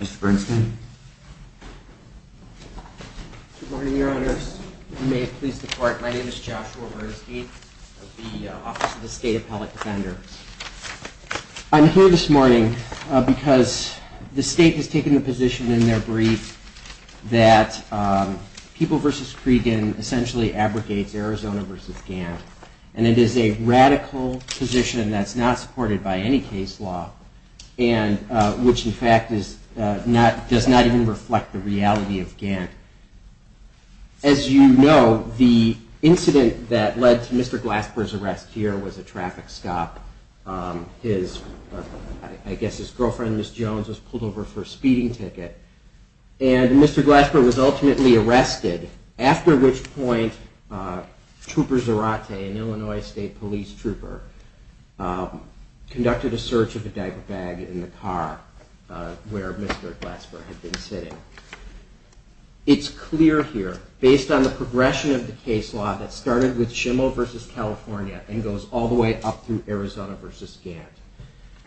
Mr. Bernstein. Good morning, your honors. You may please depart. My name is Joshua Bernstein of the Office of the State Appellate Defender. I'm here this morning because the state has taken the position in their brief that People v. Cregan essentially abrogates Arizona v. Gantt, and it is a radical position that's not supported by any case law, which in fact does not even reflect the reality of Gantt. As you know, the incident that led to Mr. Glasper's arrest here was a traffic stop. I guess his girlfriend, Ms. Jones, was pulled over for a speeding ticket, and Mr. Glasper was ultimately arrested, after which point Trooper Zarate, an Illinois State Police trooper, conducted a search of a diaper bag in the car where Mr. Glasper had been sitting. It's clear here, based on the progression of the case law that started with Schimel v. California and goes all the way up through Arizona v. Gantt,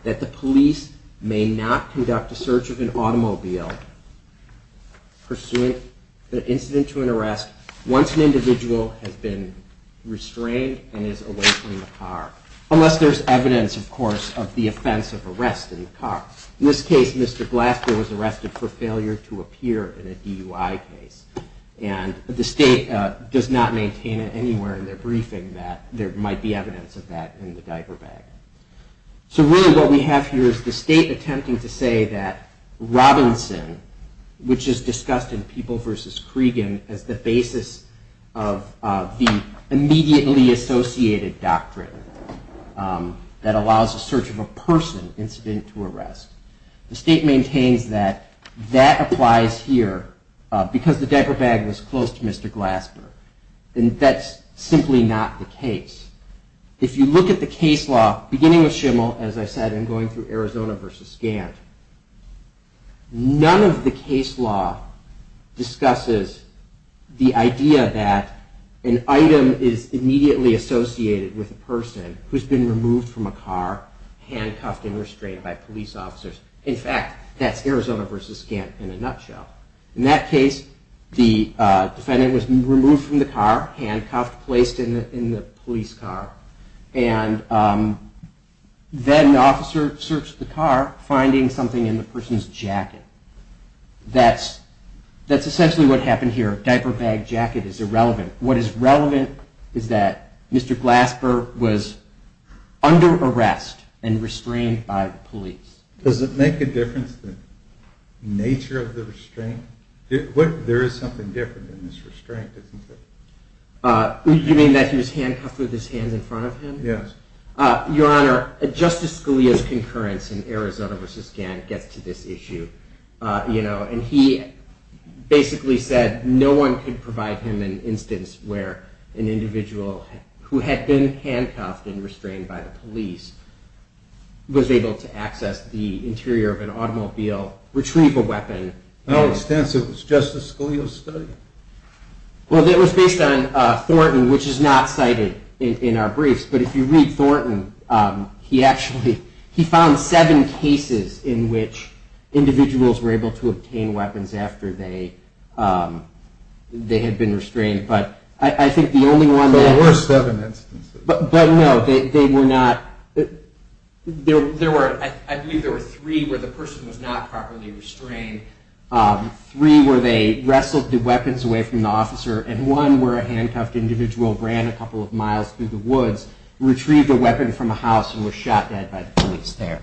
that the police may not conduct a search of an automobile pursuant to an incident to an arrest once an individual has been restrained and is away from the car, unless there's evidence, of course, of the offense of arrest in the car. In this case, Mr. Glasper was arrested for failure to appear in a DUI case, and the state does not maintain it anywhere in their briefing that there might be evidence of that in the diaper bag. So really what we have here is the state attempting to say that Robinson, which is discussed in People v. Cregan as the basis of the immediately associated doctrine that allows a search of a person incident to arrest, the state maintains that that applies here because the diaper bag was close to Mr. Glasper, and that's simply not the case. If you look at the case law beginning with Schimel, as I said, and going through Arizona v. Gantt, none of the case law discusses the idea that an item is immediately associated with a person who's been removed from a car, handcuffed and restrained by police officers. In fact, that's Arizona v. Gantt in a nutshell. In that case, the defendant was removed from the car, handcuffed, placed in the police car, and then the officer searched the car, finding something in the person's jacket. That's essentially what happened here. Diaper bag, jacket is irrelevant. What is relevant is that Mr. Glasper was under arrest and restrained by the police. Does it make a difference, the nature of the restraint? There is something different in this restraint, isn't there? You mean that he was handcuffed with his hands in front of him? Yes. Your Honor, Justice Scalia's concurrence in Arizona v. Gantt gets to this issue. He basically said no one could provide him an instance where an individual who had been handcuffed and restrained by the police was able to access the interior of an automobile, retrieve a weapon. How extensive was Justice Scalia's study? Well, it was based on Thornton, which is not cited in our briefs. But if you read Thornton, he actually found seven cases in which individuals were able to obtain weapons after they had been restrained. There were seven instances. But no, they were not. I believe there were three where the person was not properly restrained. Three where they wrestled the weapons away from the officer. And one where a handcuffed individual ran a couple of miles through the woods, retrieved a weapon from a house, and was shot dead by the police there.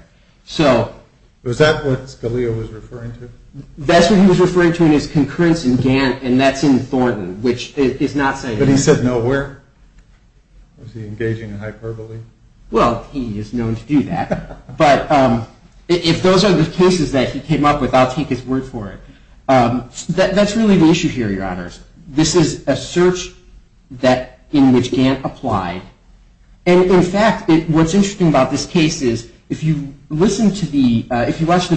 Was that what Scalia was referring to? That's what he was referring to in his concurrence in Gantt, and that's in Thornton, which is not cited. But he said no where? Was he engaging in hyperbole? Well, he is known to do that. But if those are the cases that he came up with, I'll take his word for it. That's really the issue here, Your Honors. This is a search in which Gantt applied. And, in fact, what's interesting about this case is if you watch the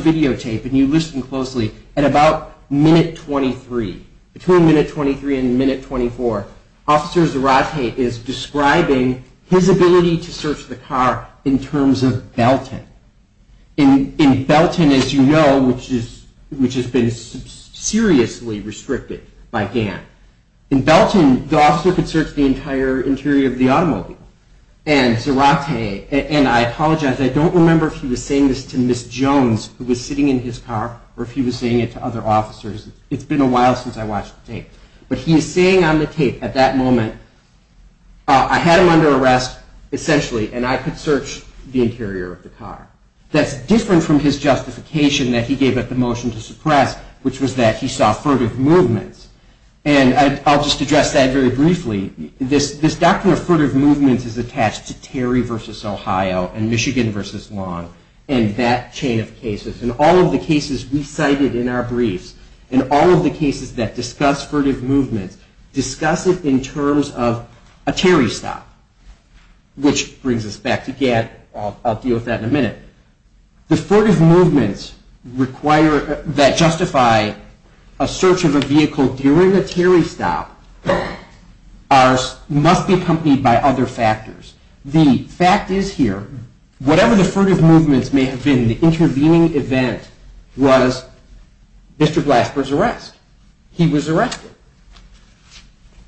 videotape and you listen closely, at about minute 23, between minute 23 and minute 24, Officer Zarate is describing his ability to search the car in terms of Belton. In Belton, as you know, which has been seriously restricted by Gantt, in Belton, the officer could search the entire interior of the automobile. And Zarate, and I apologize, I don't remember if he was saying this to Ms. Jones, who was sitting in his car, or if he was saying it to other officers. It's been a while since I watched the tape. But he is saying on the tape at that moment, I had him under arrest, essentially, and I could search the interior of the car. That's different from his justification that he gave at the motion to suppress, which was that he saw furtive movements. And I'll just address that very briefly. This doctrine of furtive movements is attached to Terry v. Ohio and Michigan v. Long and that chain of cases. In all of the cases we cited in our briefs, in all of the cases that discuss furtive movements, discuss it in terms of a Terry stop, which brings us back to Gantt. I'll deal with that in a minute. The furtive movements that justify a search of a vehicle during a Terry stop must be accompanied by other factors. The fact is here, whatever the furtive movements may have been, the intervening event was Mr. Blasper's arrest. He was arrested.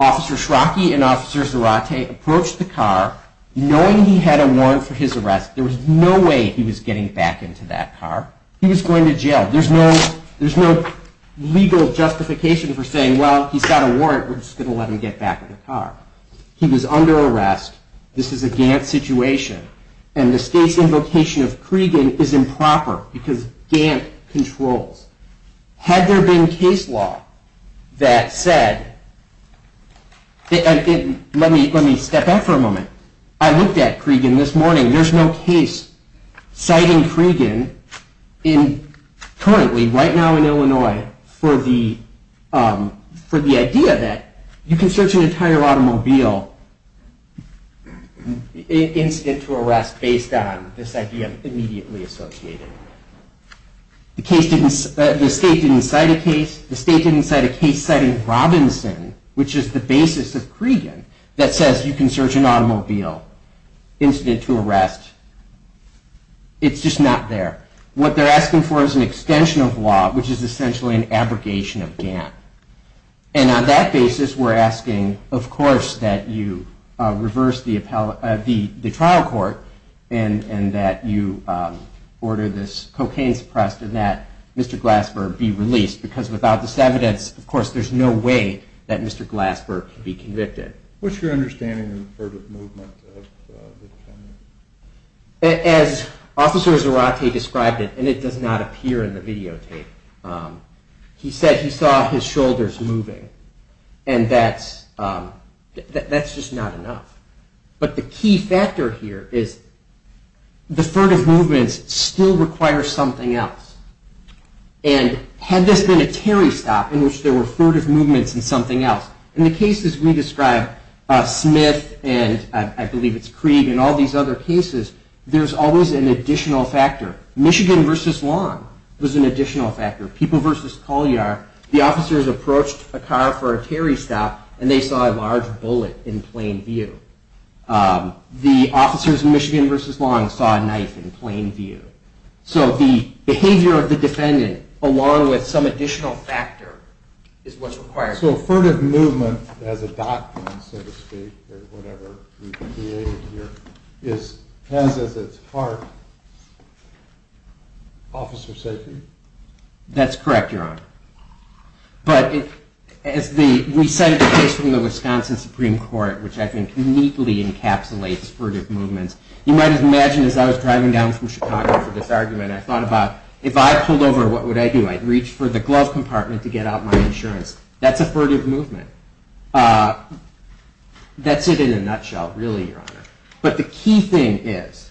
Officer Schrocki and Officer Zarate approached the car, knowing he had a warrant for his arrest. There was no way he was getting back into that car. He was going to jail. There's no legal justification for saying, well, he's got a warrant, we're just going to let him get back in the car. He was under arrest. This is a Gantt situation. And the state's invocation of Cregan is improper because Gantt controls. Had there been case law that said, let me step back for a moment. I looked at Cregan this morning. There's no case citing Cregan currently, right now in Illinois, for the idea that you can search an entire automobile incident to arrest based on this idea immediately associated. The state didn't cite a case. The state's citing Robinson, which is the basis of Cregan, that says you can search an automobile incident to arrest. It's just not there. What they're asking for is an extension of law, which is essentially an abrogation of Gantt. And on that basis, we're asking, of course, that you reverse the trial court and that you order this cocaine suppressed and that Mr. Blasper be released. Because without this evidence, of course, there's no way that Mr. Blasper can be convicted. What's your understanding of the furtive movement of the defendants? As Officer Zarate described it, and it does not appear in the videotape, he said he saw his shoulders moving. And that's just not enough. But the key factor here is the furtive movements still require something else. And had this been a Terry stop in which there were furtive movements and something else, in the cases we describe, Smith and I believe it's Cregan and all these other cases, there's always an additional factor. Michigan versus Long was an additional factor. People versus Colyar, the officers approached a car for a Terry stop and they saw a large bullet in plain view. The officers in Michigan versus Long saw a knife in plain view. So the behavior of the defendant, along with some additional factor, is what's required. So furtive movement as a doctrine, so to speak, or whatever we've created here, has as its heart officer safety? That's correct, Your Honor. But as we cited the case from the Wisconsin Supreme Court, which I think neatly encapsulates furtive movements, you might imagine as I was driving down from Chicago for this argument, I thought about, if I pulled over, what would I do? I'd reach for the glove compartment to get out my insurance. That's a furtive movement. That's it in a nutshell, really, Your Honor. But the key thing is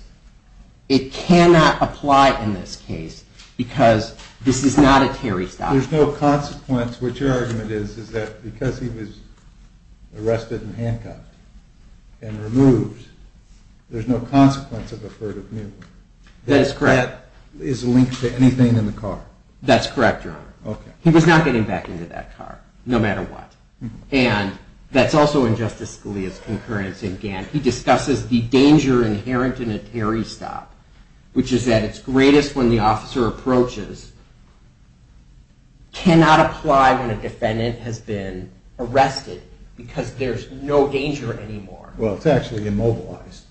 it cannot apply in this case because this is not a Terry stop. There's no consequence. What your argument is is that because he was arrested and handcuffed and removed, there's no consequence of a furtive movement. That is correct. That is linked to anything in the car. That's correct, Your Honor. He was not getting back into that car, no matter what. And that's also in Justice Scalia's concurrence in Gantt. He discusses the danger inherent in a Terry stop, which is at its greatest when the officer approaches. It cannot apply when a defendant has been arrested because there's no danger anymore. Well, it's actually immobilized.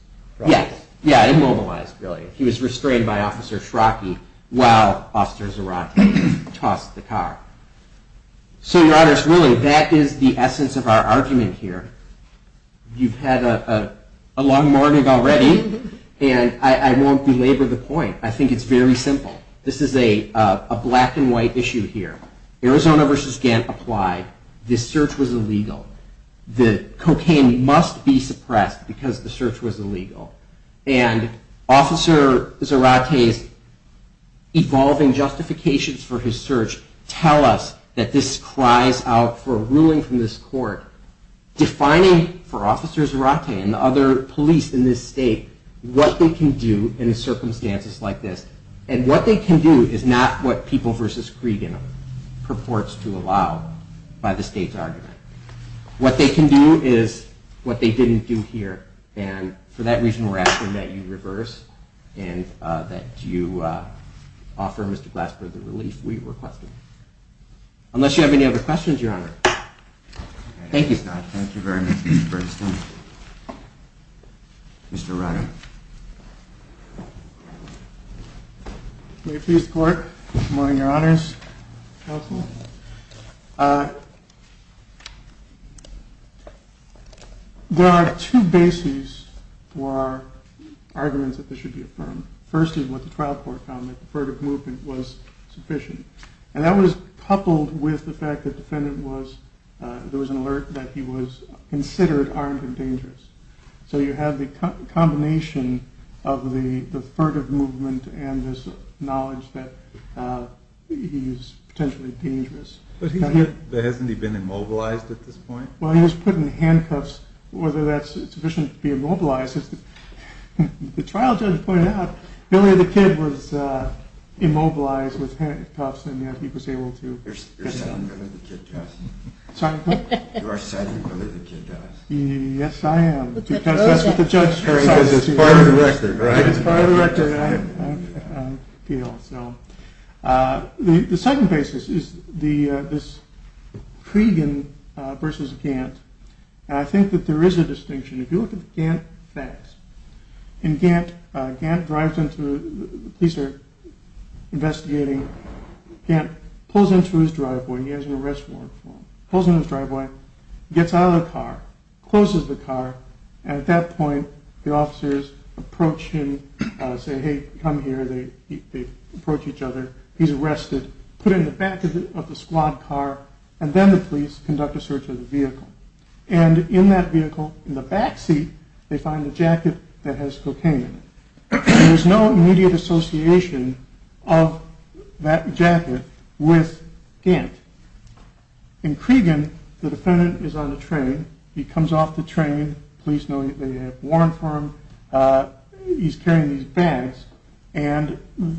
Yeah, immobilized, really. He was restrained by Officer Schrocki while Officer Zarate tossed the car. So, Your Honor, really, that is the essence of our argument here. You've had a long morning already, and I won't belabor the point. I think it's very simple. This is a black-and-white issue here. Arizona v. Gantt applied. This search was illegal. The cocaine must be suppressed because the search was illegal. And Officer Zarate's evolving justifications for his search tell us that this cries out for a ruling from this court defining, for Officer Zarate and the other police in this state, what they can do in circumstances like this. And what they can do is not what People v. Cregan purports to allow by the state's argument. What they can do is what they didn't do here. And for that reason, we're asking that you reverse and that you offer Mr. Glasper the relief we requested. Unless you have any other questions, Your Honor. Thank you. Thank you very much, Mr. Bernstein. Mr. Reiner. Mayor of Peace Court, good morning, Your Honors. Counsel. Counsel. There are two bases for arguments that this should be affirmed. First is what the trial court found, that the furtive movement was sufficient. And that was coupled with the fact that the defendant was, there was an alert that he was considered armed and dangerous. So you have the combination of the furtive movement and this knowledge that he's potentially dangerous. But hasn't he been immobilized at this point? Well, he was put in handcuffs. Whether that's sufficient to be immobilized, as the trial judge pointed out, Billy the Kid was immobilized with handcuffs and yet he was able to get out. You're citing Billy the Kid to us. Sorry? You are citing Billy the Kid to us. Yes, I am. Because that's what the judge decided. It's part of the record, right? It's part of the record. The second basis is this Cregan versus Gantt. And I think that there is a distinction. If you look at the Gantt facts, in Gantt, Gantt drives into, the police are investigating, Gantt pulls into his driveway, he has an arrest warrant for him, pulls into his driveway, gets out of the car, closes the car, and at that point the officers approach him, say, hey, come here, they approach each other, he's arrested, put in the back of the squad car, and then the police conduct a search of the vehicle. And in that vehicle, in the back seat, they find a jacket that has cocaine in it. There's no immediate association of that jacket with Gantt. In Cregan, the defendant is on the train, he comes off the train, police know that they have a warrant for him, he's carrying these bags, and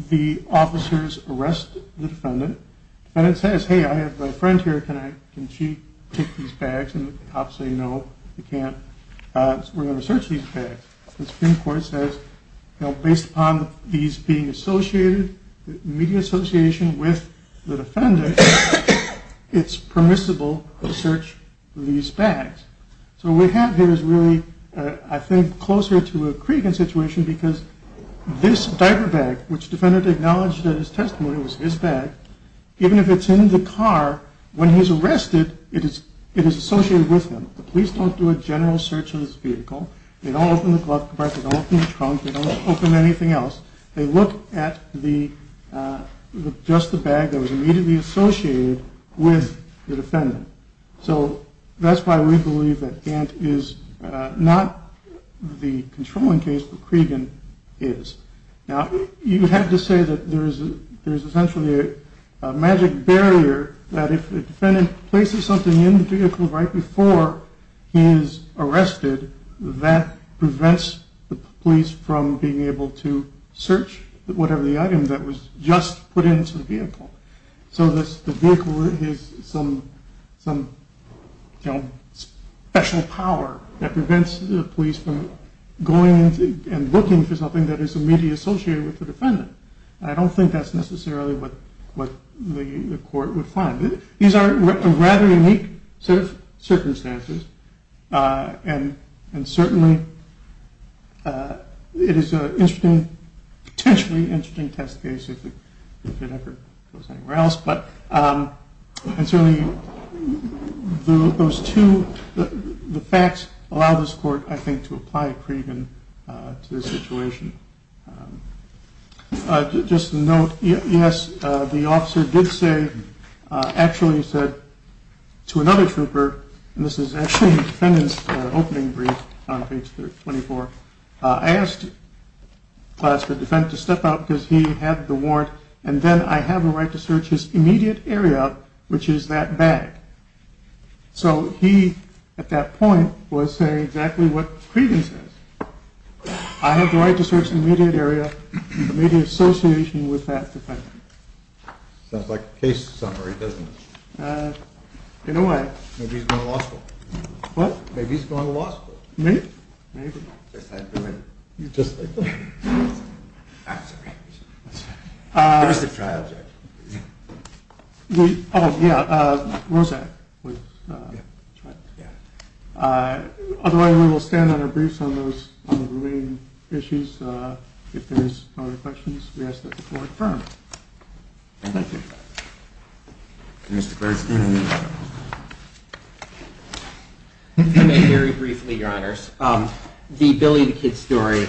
the officers arrest the defendant. The defendant says, hey, I have a friend here, can she take these bags? And the cops say, no, you can't. We're going to search these bags. The Supreme Court says, based upon these being associated, the immediate association with the defendant, it's permissible to search these bags. So what we have here is really, I think, closer to a Cregan situation, because this diaper bag, which the defendant acknowledged in his testimony was his bag, even if it's in the car, when he's arrested, it is associated with him. The police don't do a general search of this vehicle. They don't open the glove compartment, they don't open the trunk, they don't open anything else. They look at just the bag that was immediately associated with the defendant. So that's why we believe that Gantt is not the controlling case, but Cregan is. Now, you have to say that there is essentially a magic barrier that if the defendant places something in the vehicle right before he is arrested, that prevents the police from being able to search whatever the item that was just put into the vehicle. So the vehicle is some special power that prevents the police from going and looking for something I don't think that's necessarily what the court would find. These are rather unique circumstances, and certainly it is a potentially interesting test case if it ever goes anywhere else. And certainly the facts allow this court to apply Cregan to this situation. Just a note, yes, the officer did say, actually said to another trooper, and this is actually the defendant's opening brief on page 24, I asked the defendant to step out because he had the warrant, and then I have the right to search his immediate area, which is that bag. So he, at that point, was saying exactly what Cregan says. I have the right to search the immediate area, the immediate association with that defendant. Sounds like a case summary, doesn't it? In a way. Maybe he's going to law school. What? Maybe he's going to law school. Maybe. Just like that. I'm sorry. Where's the trial judge? Oh, yeah, Rosak was the trial judge. Otherwise, we will stand on our briefs on the remaining issues. If there's no other questions, we ask that the court confirm. Thank you. Mr. Gershkin. I may very briefly, Your Honors. The Billy the Kid story,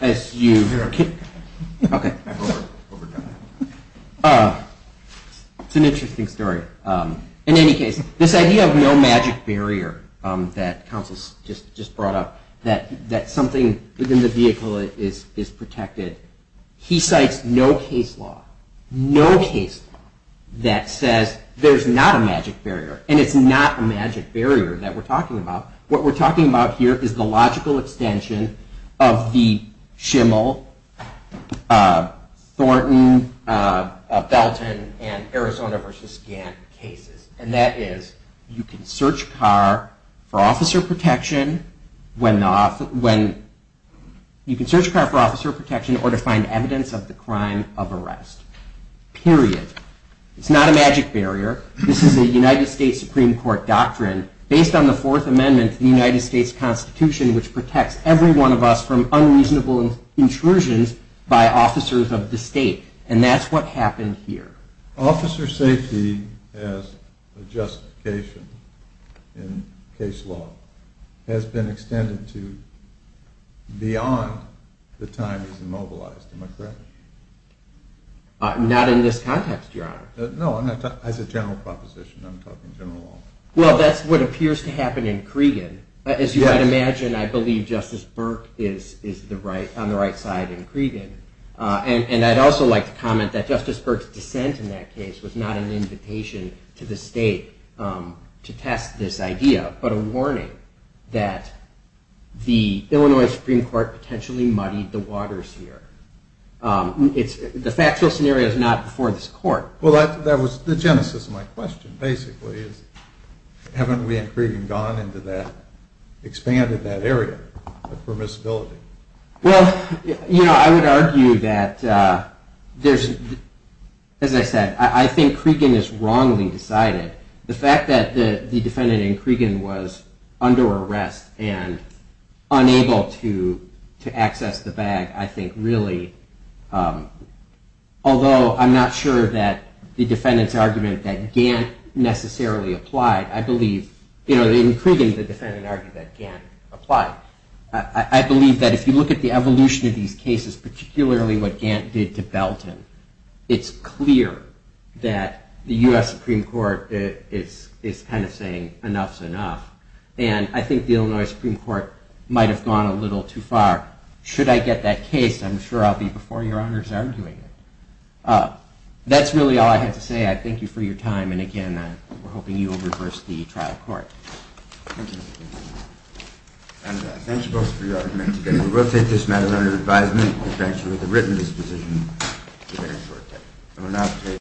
as you heard, it's an interesting story. In any case, this idea of no magic barrier that counsel just brought up, that something within the vehicle is protected, he cites no case law, no case law that says there's not a magic barrier. And it's not a magic barrier that we're talking about. What we're talking about here is the logical extension of the Schimel, Thornton, Belton, and Arizona v. Gantt cases. And that is, you can search a car for officer protection or to find evidence of the crime of arrest. Period. It's not a magic barrier. This is a United States Supreme Court doctrine based on the Fourth Amendment of the United States Constitution, which protects every one of us from unreasonable intrusions by officers of the state. And that's what happened here. Officer safety as a justification in case law has been extended to beyond the time it's immobilized. Am I correct? Not in this context, Your Honor. No, I said general proposition. I'm talking general law. Well, that's what appears to happen in Cregan. As you might imagine, I believe Justice Burke is on the right side in Cregan. And I'd also like to comment that Justice Burke's dissent in that case was not an invitation to the state to test this idea, but a warning that the Illinois Supreme Court potentially muddied the waters here. The factual scenario is not before this Court. Well, that was the genesis of my question, basically, is haven't we in Cregan gone into that, expanded that area of permissibility? Well, you know, I would argue that there's, as I said, I think Cregan is wrongly decided. The fact that the defendant in Cregan was under arrest and unable to access the bag, I think really, although I'm not sure that the defendant's argument that Gant necessarily applied, I believe, you know, in Cregan the defendant argued that Gant applied. I believe that if you look at the evolution of these cases, particularly what Gant did to Belton, it's clear that the US Supreme Court is kind of saying enough's enough. And I think the Illinois Supreme Court might have gone a little too far. Should I get that case, I'm sure I'll be before your honors arguing it. That's really all I have to say. I thank you for your time. And again, we're hoping you will reverse the trial court. Thank you. And thank you both for your argument today. We will take this matter under advisement. I thank you for the written disposition.